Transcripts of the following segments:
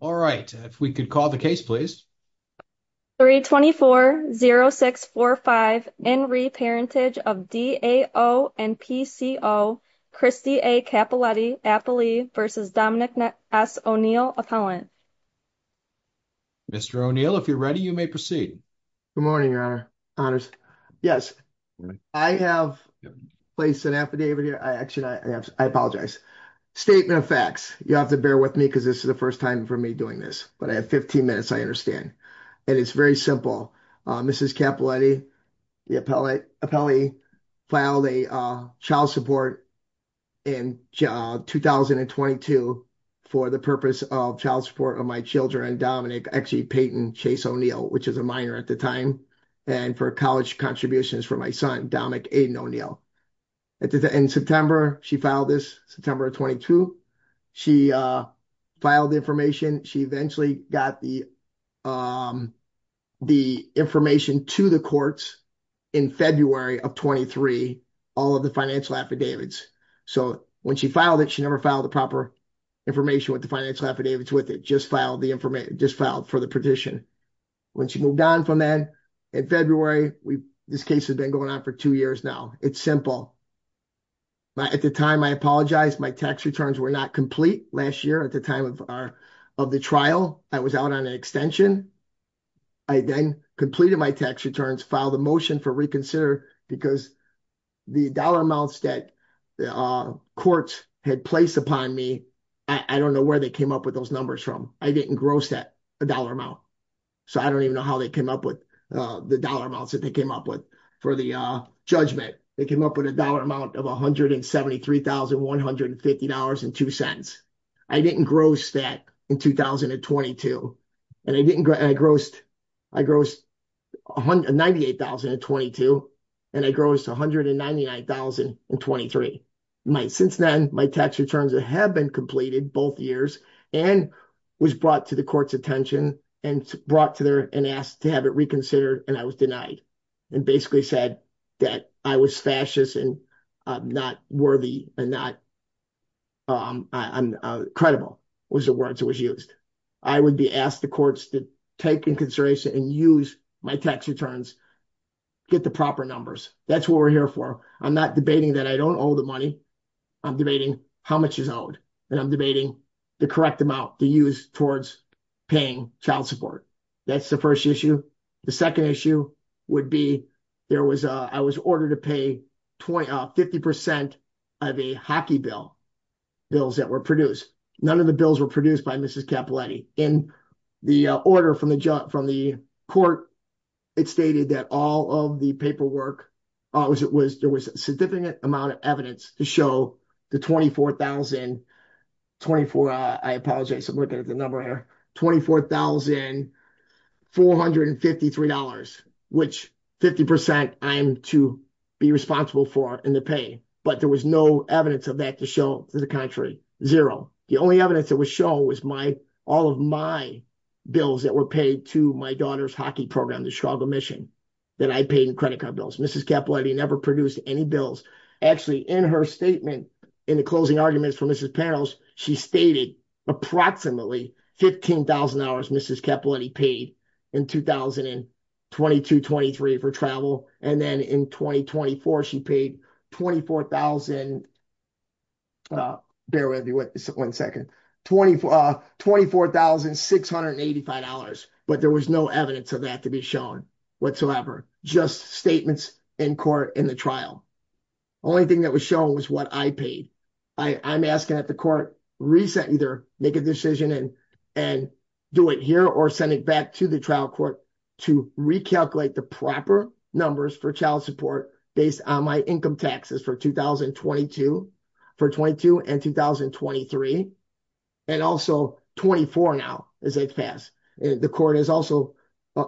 All right, if we could call the case please. 324-0645 in re-parentage of D.A.O. and P.C.O. Christy A. Cappelletti-Appley versus Dominic S. O'Neill-Appellant. Mr. O'Neill, if you're ready, you may proceed. Good morning, your honors. Yes, I have placed an affidavit here. Actually, I apologize. Statement of facts. You have to bear with me this is the first time for me doing this, but I have 15 minutes, I understand. And it's very simple. Mrs. Cappelletti-Appellant filed a child support in 2022 for the purpose of child support of my children and Dominic, actually Payton Chase O'Neill, which is a minor at the time, and for college contributions for my son, Dominic Aiden O'Neill. In September, she filed this, September of 22. She filed the information. She eventually got the information to the courts in February of 23, all of the financial affidavits. So when she filed it, she never filed the proper information with the financial affidavits with it, just filed for the petition. When she moved on from then, in February, this case has been going on for two years now. It's simple. At the time, I apologize, my tax returns were not complete last year. At the time of the trial, I was out on an extension. I then completed my tax returns, filed a motion for reconsider because the dollar amounts that the courts had placed upon me, I don't know where they came up with those numbers from. I didn't gross that dollar amount. So I don't even know they came up with the dollar amounts that they came up with for the judgment. They came up with a dollar amount of $173,150.02. I didn't gross that in 2022. I grossed $198,022, and I grossed $199,023. Since then, my tax returns have been completed both years and was brought to the have it reconsidered, and I was denied and basically said that I was fascist and not worthy and not credible was the words that was used. I would be asked the courts to take into consideration and use my tax returns, get the proper numbers. That's what we're here for. I'm not debating that I don't owe the money. I'm debating how much is owed, and I'm debating the correct amount to use towards paying child support. That's the first issue. The second issue would be, I was ordered to pay 50% of a hockey bill, bills that were produced. None of the bills were produced by Mrs. Capiletti. In the order from the court, it stated that all of the paperwork, there was a amount of evidence to show the $24,453, which 50% I am to be responsible for in the pay, but there was no evidence of that to show to the contrary, zero. The only evidence that was shown was all of my bills that were paid to my daughter's hockey program, the Struggle Mission, that I paid in any bills. Actually, in her statement, in the closing arguments for Mrs. Panels, she stated approximately $15,000 Mrs. Capiletti paid in 2022-23 for travel, and then in 2024, she paid $24,000, bear with me one second, $24,685, but there was no evidence of that to be shown whatsoever, just statements in court in the trial. Only thing that was shown was what I paid. I'm asking that the court reset, either make a decision and do it here or send it back to the trial court to recalculate the proper numbers for child support based on my income taxes for 2022 and 2023, and also 24 now, as they pass. The court has also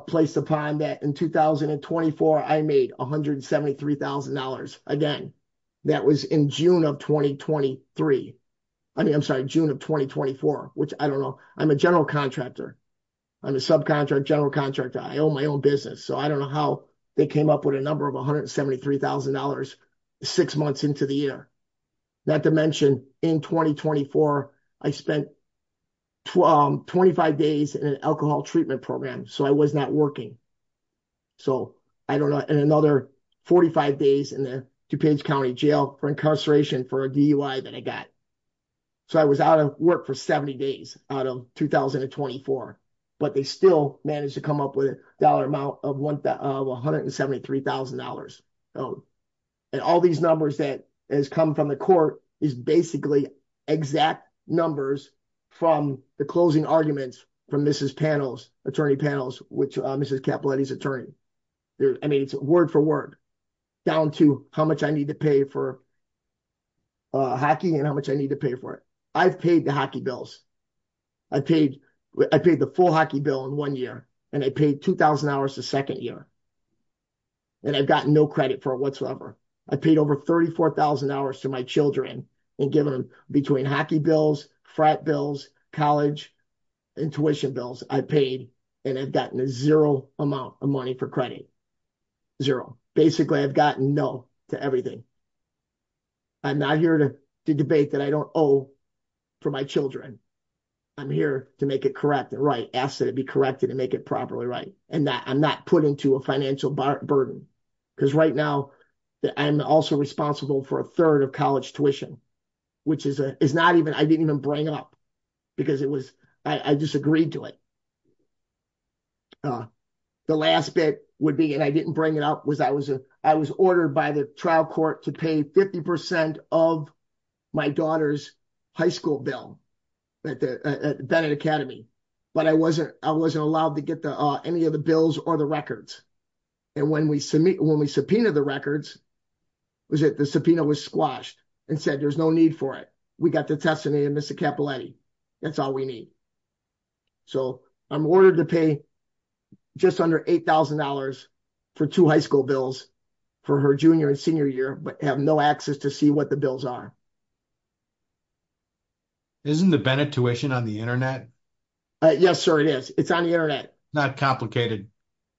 placed upon that in 2024, I made $173,000. Again, that was in June of 2023. I mean, I'm sorry, June of 2024, which I don't know. I'm a general contractor. I'm a subcontractor, general contractor. I own my own business, so I don't know how they came up with a number of $173,000 six months into the year. Not to mention in 2024, I spent 25 days in an alcohol treatment program, so I was not working. So, I don't know, and another 45 days in the DuPage County Jail for incarceration for a DUI that I got. So, I was out of work for 70 days out of 2024, but they still managed to come up with a $173,000 amount of $173,000. And all these numbers that has come from the court is basically exact numbers from the closing arguments from Mrs. Panels, Attorney Panels, which Mrs. Capiletti's attorney. I mean, it's word for word down to how much I need to pay for hockey and how much I need to pay for it. I've paid the hockey bills. I paid the full hockey bill in one year, and I paid two hours the second year, and I've gotten no credit for it whatsoever. I paid over $34,000 to my children and given them between hockey bills, frat bills, college, and tuition bills, I paid, and I've gotten a zero amount of money for credit. Zero. Basically, I've gotten no to everything. I'm not here to debate that I don't owe for my children. I'm here to make it correct and right, to be corrected and make it properly right, and that I'm not put into a financial burden. Because right now, I'm also responsible for a third of college tuition, which is not even, I didn't even bring up because it was, I disagreed to it. The last bit would be, and I didn't bring it up, was I was ordered by the trial court to pay 50% of my daughter's high school bill at Bennett Academy, but I wasn't allowed to get any of the bills or the records. When we subpoenaed the records, the subpoena was squashed and said, there's no need for it. We got the testimony of Mr. Capiletti. That's all we need. So, I'm ordered to pay just under $8,000 for two high school bills for her junior and senior year, but have no access to see what the bills are. Isn't the Bennett tuition on the internet? Yes, sir, it is. It's on the internet. Not complicated.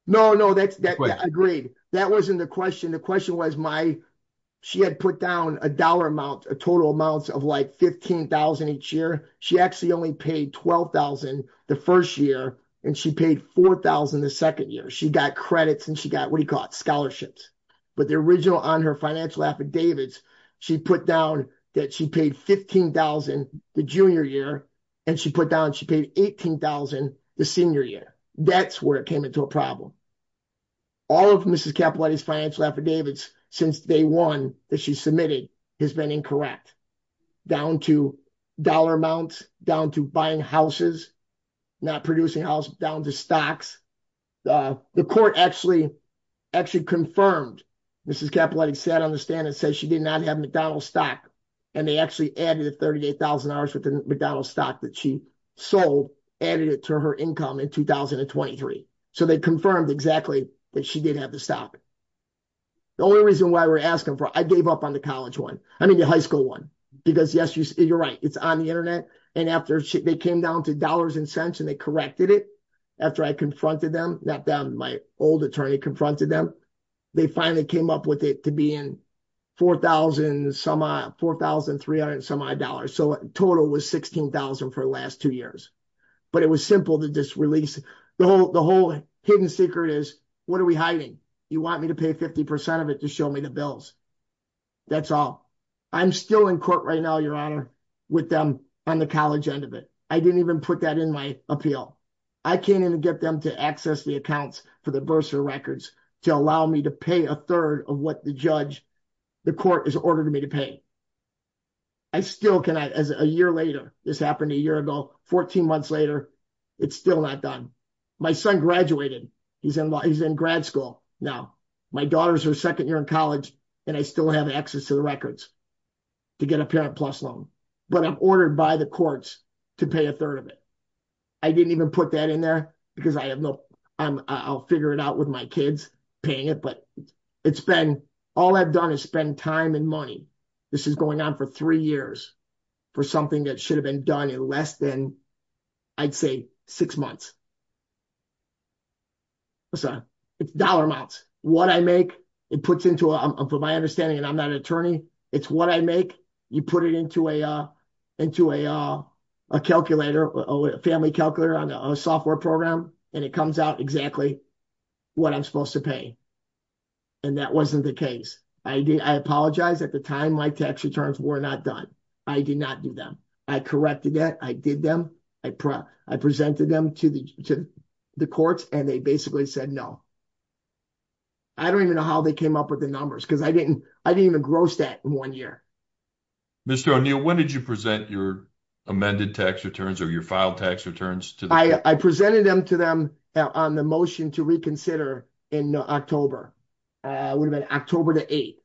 No, no, agreed. That wasn't the question. The question was my, she had put down a dollar amount, a total amounts of like $15,000 each year. She actually only paid $12,000 the first year and she paid $4,000 the second year. She got credits and she got, scholarships, but the original on her financial affidavits, she put down that she paid $15,000 the junior year and she put down, she paid $18,000 the senior year. That's where it came into a problem. All of Mrs. Capiletti's financial affidavits since day one that she submitted has been incorrect, down to dollar amounts, down to buying houses, not producing house, down to stocks. The court actually confirmed, Mrs. Capiletti said on the stand, it says she did not have McDonald's stock. And they actually added a $38,000 worth of McDonald's stock that she sold, added it to her income in 2023. So they confirmed exactly that she did have the stock. The only reason why we're asking for, I gave up on the college one. I mean, the high school one, because yes, you're right. It's on the internet. And after they came down to dollars and cents, they corrected it. After I confronted them, not them, my old attorney confronted them. They finally came up with it to be in $4,300. So total was $16,000 for the last two years. But it was simple to just release. The whole hidden secret is, what are we hiding? You want me to pay 50% of it to show me the bills. That's all. I'm still in court right now, Your Honor, with them on the college end of it. I didn't even put that in my appeal. I came in and get them to access the accounts for the bursar records to allow me to pay a third of what the court has ordered me to pay. I still cannot, as a year later, this happened a year ago, 14 months later, it's still not done. My son graduated. He's in grad school now. My daughter's her second year and I still have access to the records to get a Parent PLUS loan. But I'm ordered by the courts to pay a third of it. I didn't even put that in there because I'll figure it out with my kids paying it. But all I've done is spend time and money. This is going on for three years for something that should have been done in less than, I'd say, six months. It's dollar amounts. What I make, from my understanding, and I'm not an attorney, it's what I make. You put it into a calculator, a family calculator on a software program, and it comes out exactly what I'm supposed to pay. And that wasn't the case. I apologize. At the time, my tax returns were not done. I did not do them. I corrected that. I did them. I presented them to the courts and they basically said no. I don't even know how they came up with the numbers because I didn't even gross that in one year. Mr. O'Neill, when did you present your amended tax returns or your filed tax returns? I presented them to them on the motion to reconsider in October. It would have been October the 8th.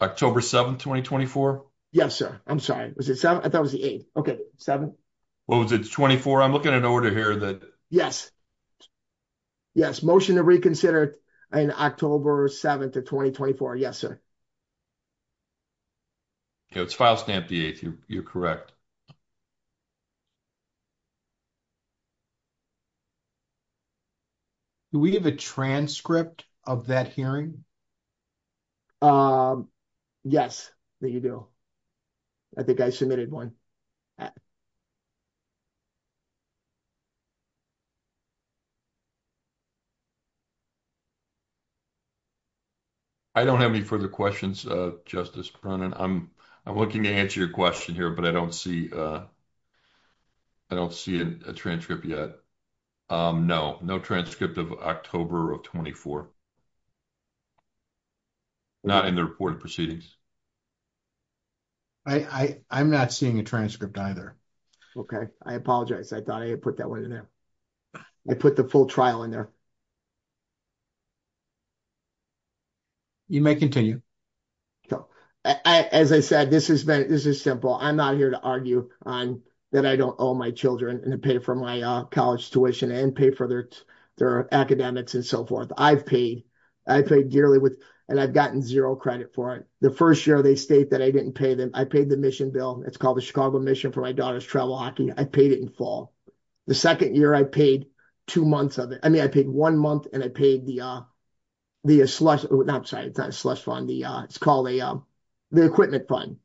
October 7th, 2024? Yes, sir. I'm sorry. Was it October 7th, 2024? I'm looking at an order here. Yes. Motion to reconsider in October 7th of 2024. Yes, sir. It's file stamp the 8th. You're correct. Do we have a transcript of that hearing? Yes, we do. I think I submitted one. I don't have any further questions, Justice Prunan. I'm looking to answer your question here, but I don't see a transcript yet. No, no transcript of October of 2024. Not in the report of proceedings. I'm not seeing a transcript either. Okay. I apologize. I thought I had put that one in there. I put the full trial in there. You may continue. As I said, this is simple. I'm not here to argue on that I don't owe my children and pay for my college tuition and pay for their academics and so forth. I've paid. I've paid dearly and I've gotten zero credit for it. The first year they state that I didn't pay them, I paid the mission bill. It's called the Chicago mission for my daughter's travel hockey. I paid it in fall. The second year I paid two months of it. I mean, I paid one month and I paid the slush fund. It's called the equipment fund.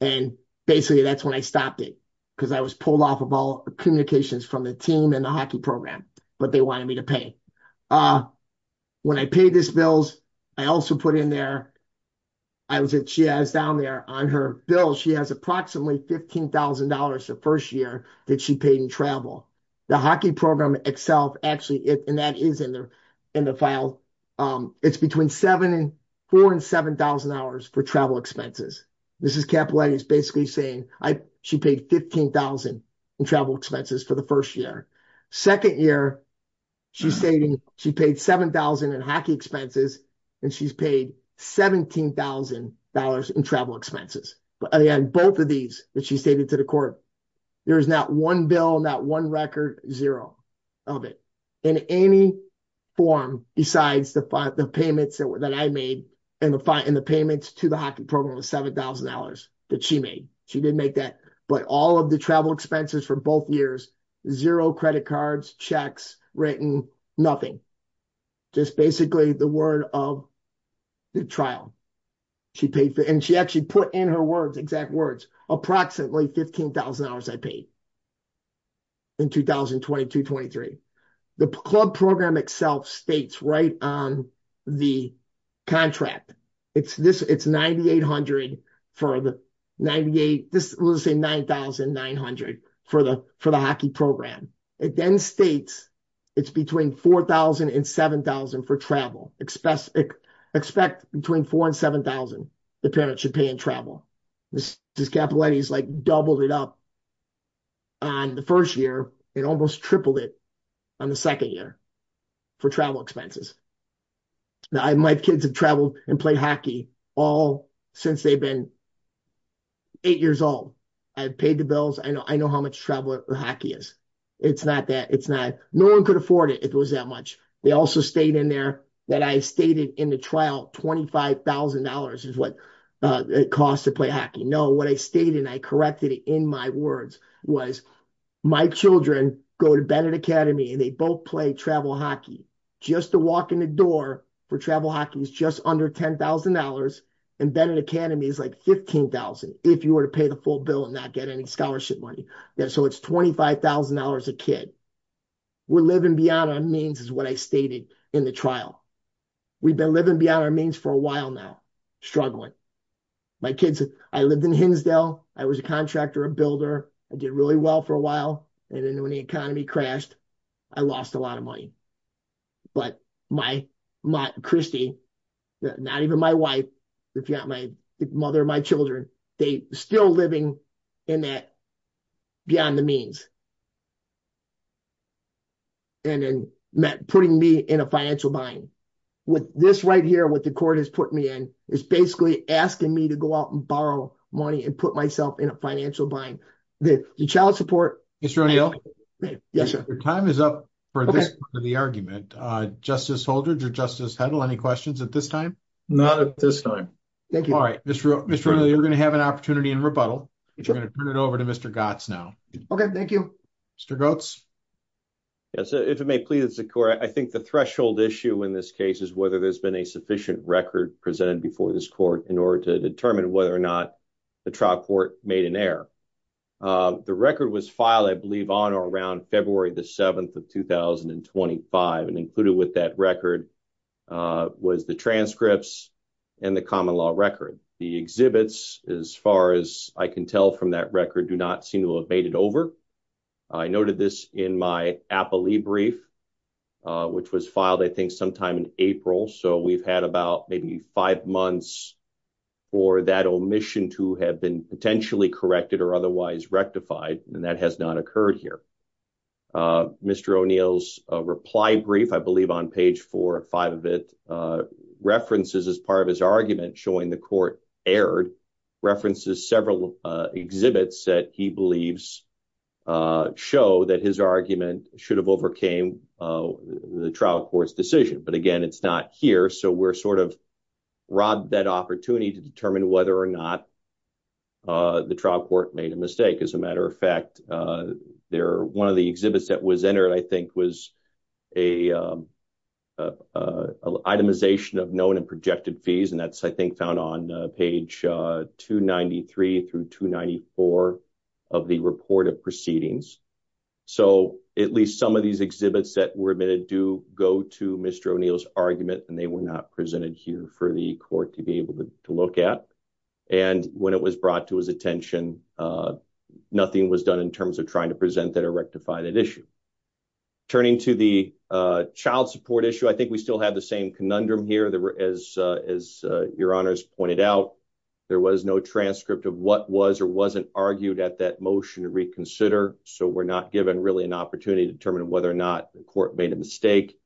And basically that's when I stopped it because I was pulled off of all communications from the team and the hockey program, but they wanted me to pay. When I paid this bills, I also put in there. I was at, she has down there on her bill. She has approximately $15,000 the first year that she paid in travel. The hockey program itself actually, and that is in there in the file. It's between seven and four and $7,000 for travel expenses. This is capitalized basically saying I, she paid 15,000 in travel expenses for the first year. Second year, she's stating she paid 7,000 in hockey expenses and she's paid $17,000 in travel expenses. But again, both of these that she stated to the court, there is not one bill, not one record, zero of it in any form besides the payments that I made and the payments to the hockey program was $7,000 that she made. She didn't make that, but all of the travel expenses for both years, zero credit cards, checks, written, nothing. Just basically the word of the trial. She paid for, and she actually put in her words, exact words, approximately $15,000 I paid in 2022-23. The club program itself states right on the contract. It's this, it's 9,800 for the 98, let's say 9,900 for the hockey program. It then states it's between 4,000 and 7,000 for travel. Expect between four and 7,000 the parent should pay in travel. This is capitalized like doubled it up on the first year and almost tripled it on the second year for travel expenses. Now, my kids have traveled and played hockey all since they've been eight years old. I've paid the bills. I know how much travel hockey is. It's not that, it's not, no one could afford it if it was that much. They also stayed in there that I stated in the trial, $25,000 is what it costs to play hockey. No, what I stated and I corrected it in my words was my children go to Bennett Academy and they both play travel hockey. Just to walk in the door for travel hockey is just under $10,000 and Bennett Academy is like 15,000 if you were to pay the full bill and not get any scholarship money. Yeah, so it's $25,000 a kid. We're living beyond our means is what I stated in the trial. We've been living beyond our means for a while now, struggling. My kids, I lived in Hinsdale. I was a contractor, a builder. I did really well for a while and then when the economy crashed, I lost a lot of money. But my, Christy, not even my wife, my mother, my children, they still living in that beyond the means and then putting me in a financial bind. With this right here, what the court has put me in is basically asking me to go out and borrow money and put myself in a financial bind. The child support- Mr. O'Neill? Yes, sir. Your time is up for this part of the argument. Justice Holdred or Justice Hedl, any questions at this time? Not at this time. Thank you. All right, Mr. O'Neill, you're going to have an opportunity in rebuttal. You're going to turn it over to Mr. Gotts now. Okay, thank you. Mr. Gotts? Yes, if it may please the court, I think the threshold issue in this case is whether there's been a sufficient record presented before this court in order to determine whether or not the trial court made an error. The record was filed, I believe, on or around February the 7th of 2025. And included with that record was the transcripts and the common law record. The exhibits, as far as I can tell from that record, do not seem to have made it over. I noted this in my appellee brief, which was filed, I think, sometime in April. So we've had about maybe five months for that omission to have been potentially corrected or otherwise rectified, and that has not occurred here. Mr. O'Neill's reply brief, I believe on page four or five of it, references as part of his argument showing the court erred, references several exhibits that he believes show that his argument should have overcame the trial court's decision. But again, it's not here. So we're sort of robbed that opportunity to determine whether or not the trial court made a mistake. As a matter of fact, one of the exhibits that was entered, I think, was a itemization of known and projected fees. And that's, I think, found on page 293 through 294 of the report of proceedings. So at least some of these exhibits that were admitted do go to Mr. O'Neill's argument, and they were not presented here for the court to be able to look at. And when it was brought to his attention, nothing was done in terms of trying to present that or rectify that issue. Turning to the child support issue, I think we still have the same conundrum here. As your honors pointed out, there was no transcript of what was or wasn't argued at that motion to reconsider. So we're not given really an opportunity to determine whether or not the court made a mistake.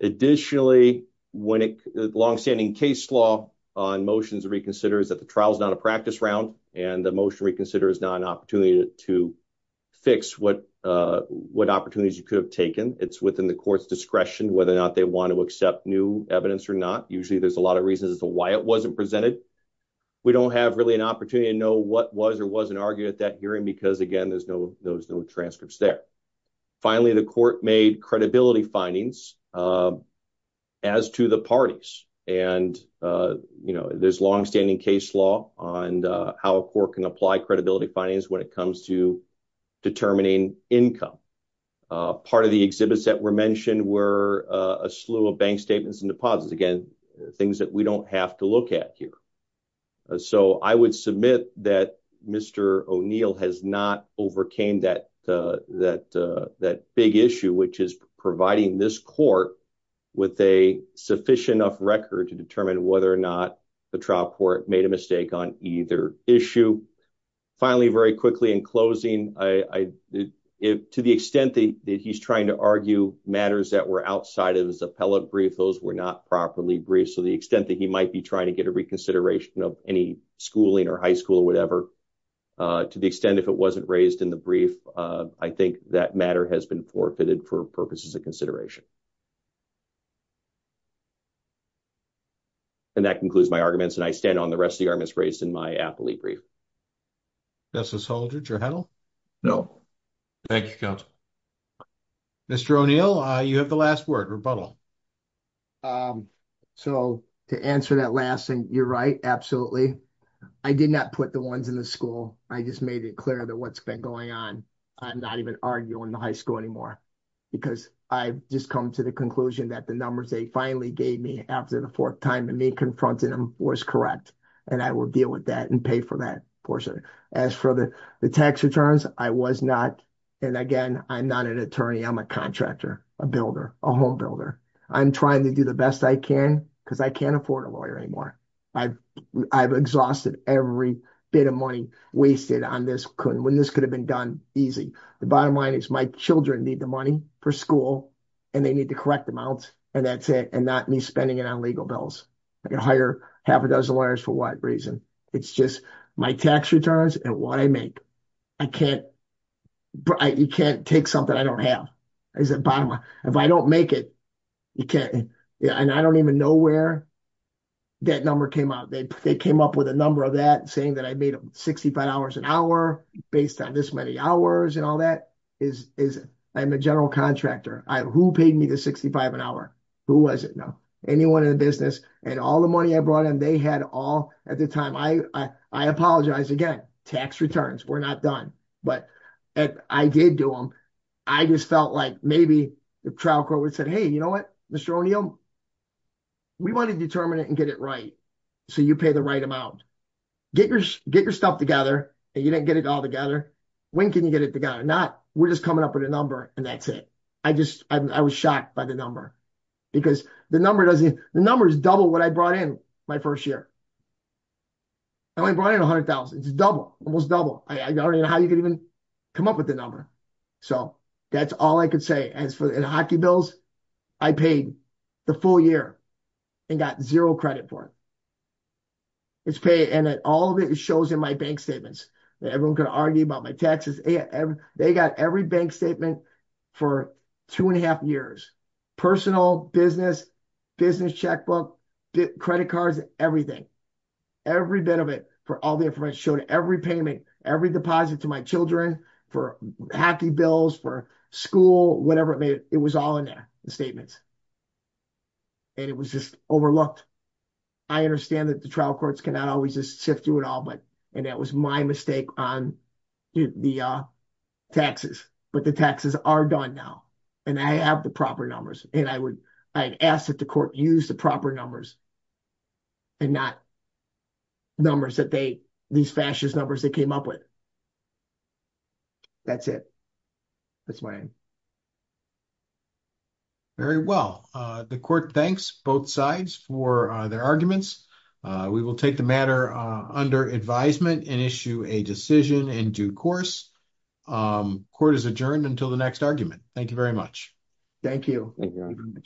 Additionally, long-standing case law on motions to reconsider is that the trial is not a practice round, and the motion to reconsider is not an opportunity to fix what opportunities you could have taken. It's within the court's discretion whether or not they want to accept new evidence or not. Usually there's a lot of reasons as to why it wasn't presented. We don't have really an opportunity to know what was or wasn't argued at that hearing because, again, there's no transcripts there. Finally, the court made credibility findings as to the parties. And there's long-standing case law on how a court can apply credibility findings when it comes to determining income. Part of the exhibits that were mentioned were a slew of bank statements and deposits. Again, things that we don't have to look at here. So I would submit that Mr. O'Neill has not overcame that big issue, which is providing this court with a sufficient enough record to determine whether or not the trial court made a mistake on either issue. Finally, very quickly in closing, to the extent that he's trying to argue matters that were outside of his appellate brief, those were not properly briefed. So the extent that he might be trying to get a if it wasn't raised in the brief, I think that matter has been forfeited for purposes of consideration. And that concludes my arguments. And I stand on the rest of the arguments raised in my appellate brief. ≫ Justice Holdred, your handle? ≫ No. ≫ Thank you, counsel. Mr. O'Neill, you have the last word, rebuttal. ≫ So to answer that last thing, you're right, absolutely. I did not put the ones in the school. I just made it clear that what's been going on, I'm not even arguing the high school anymore. Because I've just come to the conclusion that the numbers they finally gave me after the fourth time and me confronting them was correct. And I will deal with that and pay for that portion. As for the tax returns, I was not, and again, I'm not an attorney, I'm a contractor, a builder, a home builder. I'm trying to do the best I can because I can't afford a lawyer anymore. I've exhausted every bit of money wasted on this, when this could have been done easy. The bottom line is my children need the money for school, and they need the correct amounts, and that's it, and not me spending it on legal bills. I can hire half a dozen lawyers for what reason? It's just my tax returns and what I make. I can't, you can't take something I don't have. If I don't make it, you can't, and I don't even know where that number came out. They came up with a number of that saying that I made $65 an hour based on this many hours and all that. I'm a general contractor. Who paid me the $65 an hour? Who was it? No. Anyone in the business. And all the money I brought in, they had all at the time. I apologize again. Tax returns, we're not done. But I did do them. I just felt like maybe the trial court would have said, hey, you know what, Mr. O'Neill, we want to determine it and get it right, so you pay the right amount. Get your stuff together, and you didn't get it all together. When can you get it together? We're just coming up with a number, and that's it. I was shocked by the number because the number is double what I brought in my first year. I only brought in $100,000. It's double, almost double. I don't even know how you come up with the number. That's all I can say. In hockey bills, I paid the full year and got zero credit for it. All of it shows in my bank statements. Everyone can argue about my taxes. They got every bank statement for two and a half years. Personal, business, business checkbook, credit cards, everything. Every bit of it for all the information. It showed every payment, every deposit to my children, for hockey bills, for school, whatever. It was all in there, the statements. It was just overlooked. I understand that the trial courts cannot always just sift through it all, and that was my mistake on the taxes, but the taxes are done now, and I have the proper numbers. I asked that the court use the proper numbers and not these fascist numbers they came up with. That's it. That's my end. Very well. The court thanks both sides for their arguments. We will take the matter under advisement and issue a decision in due course. Court is adjourned until the next argument. Thank you very much. Thank you.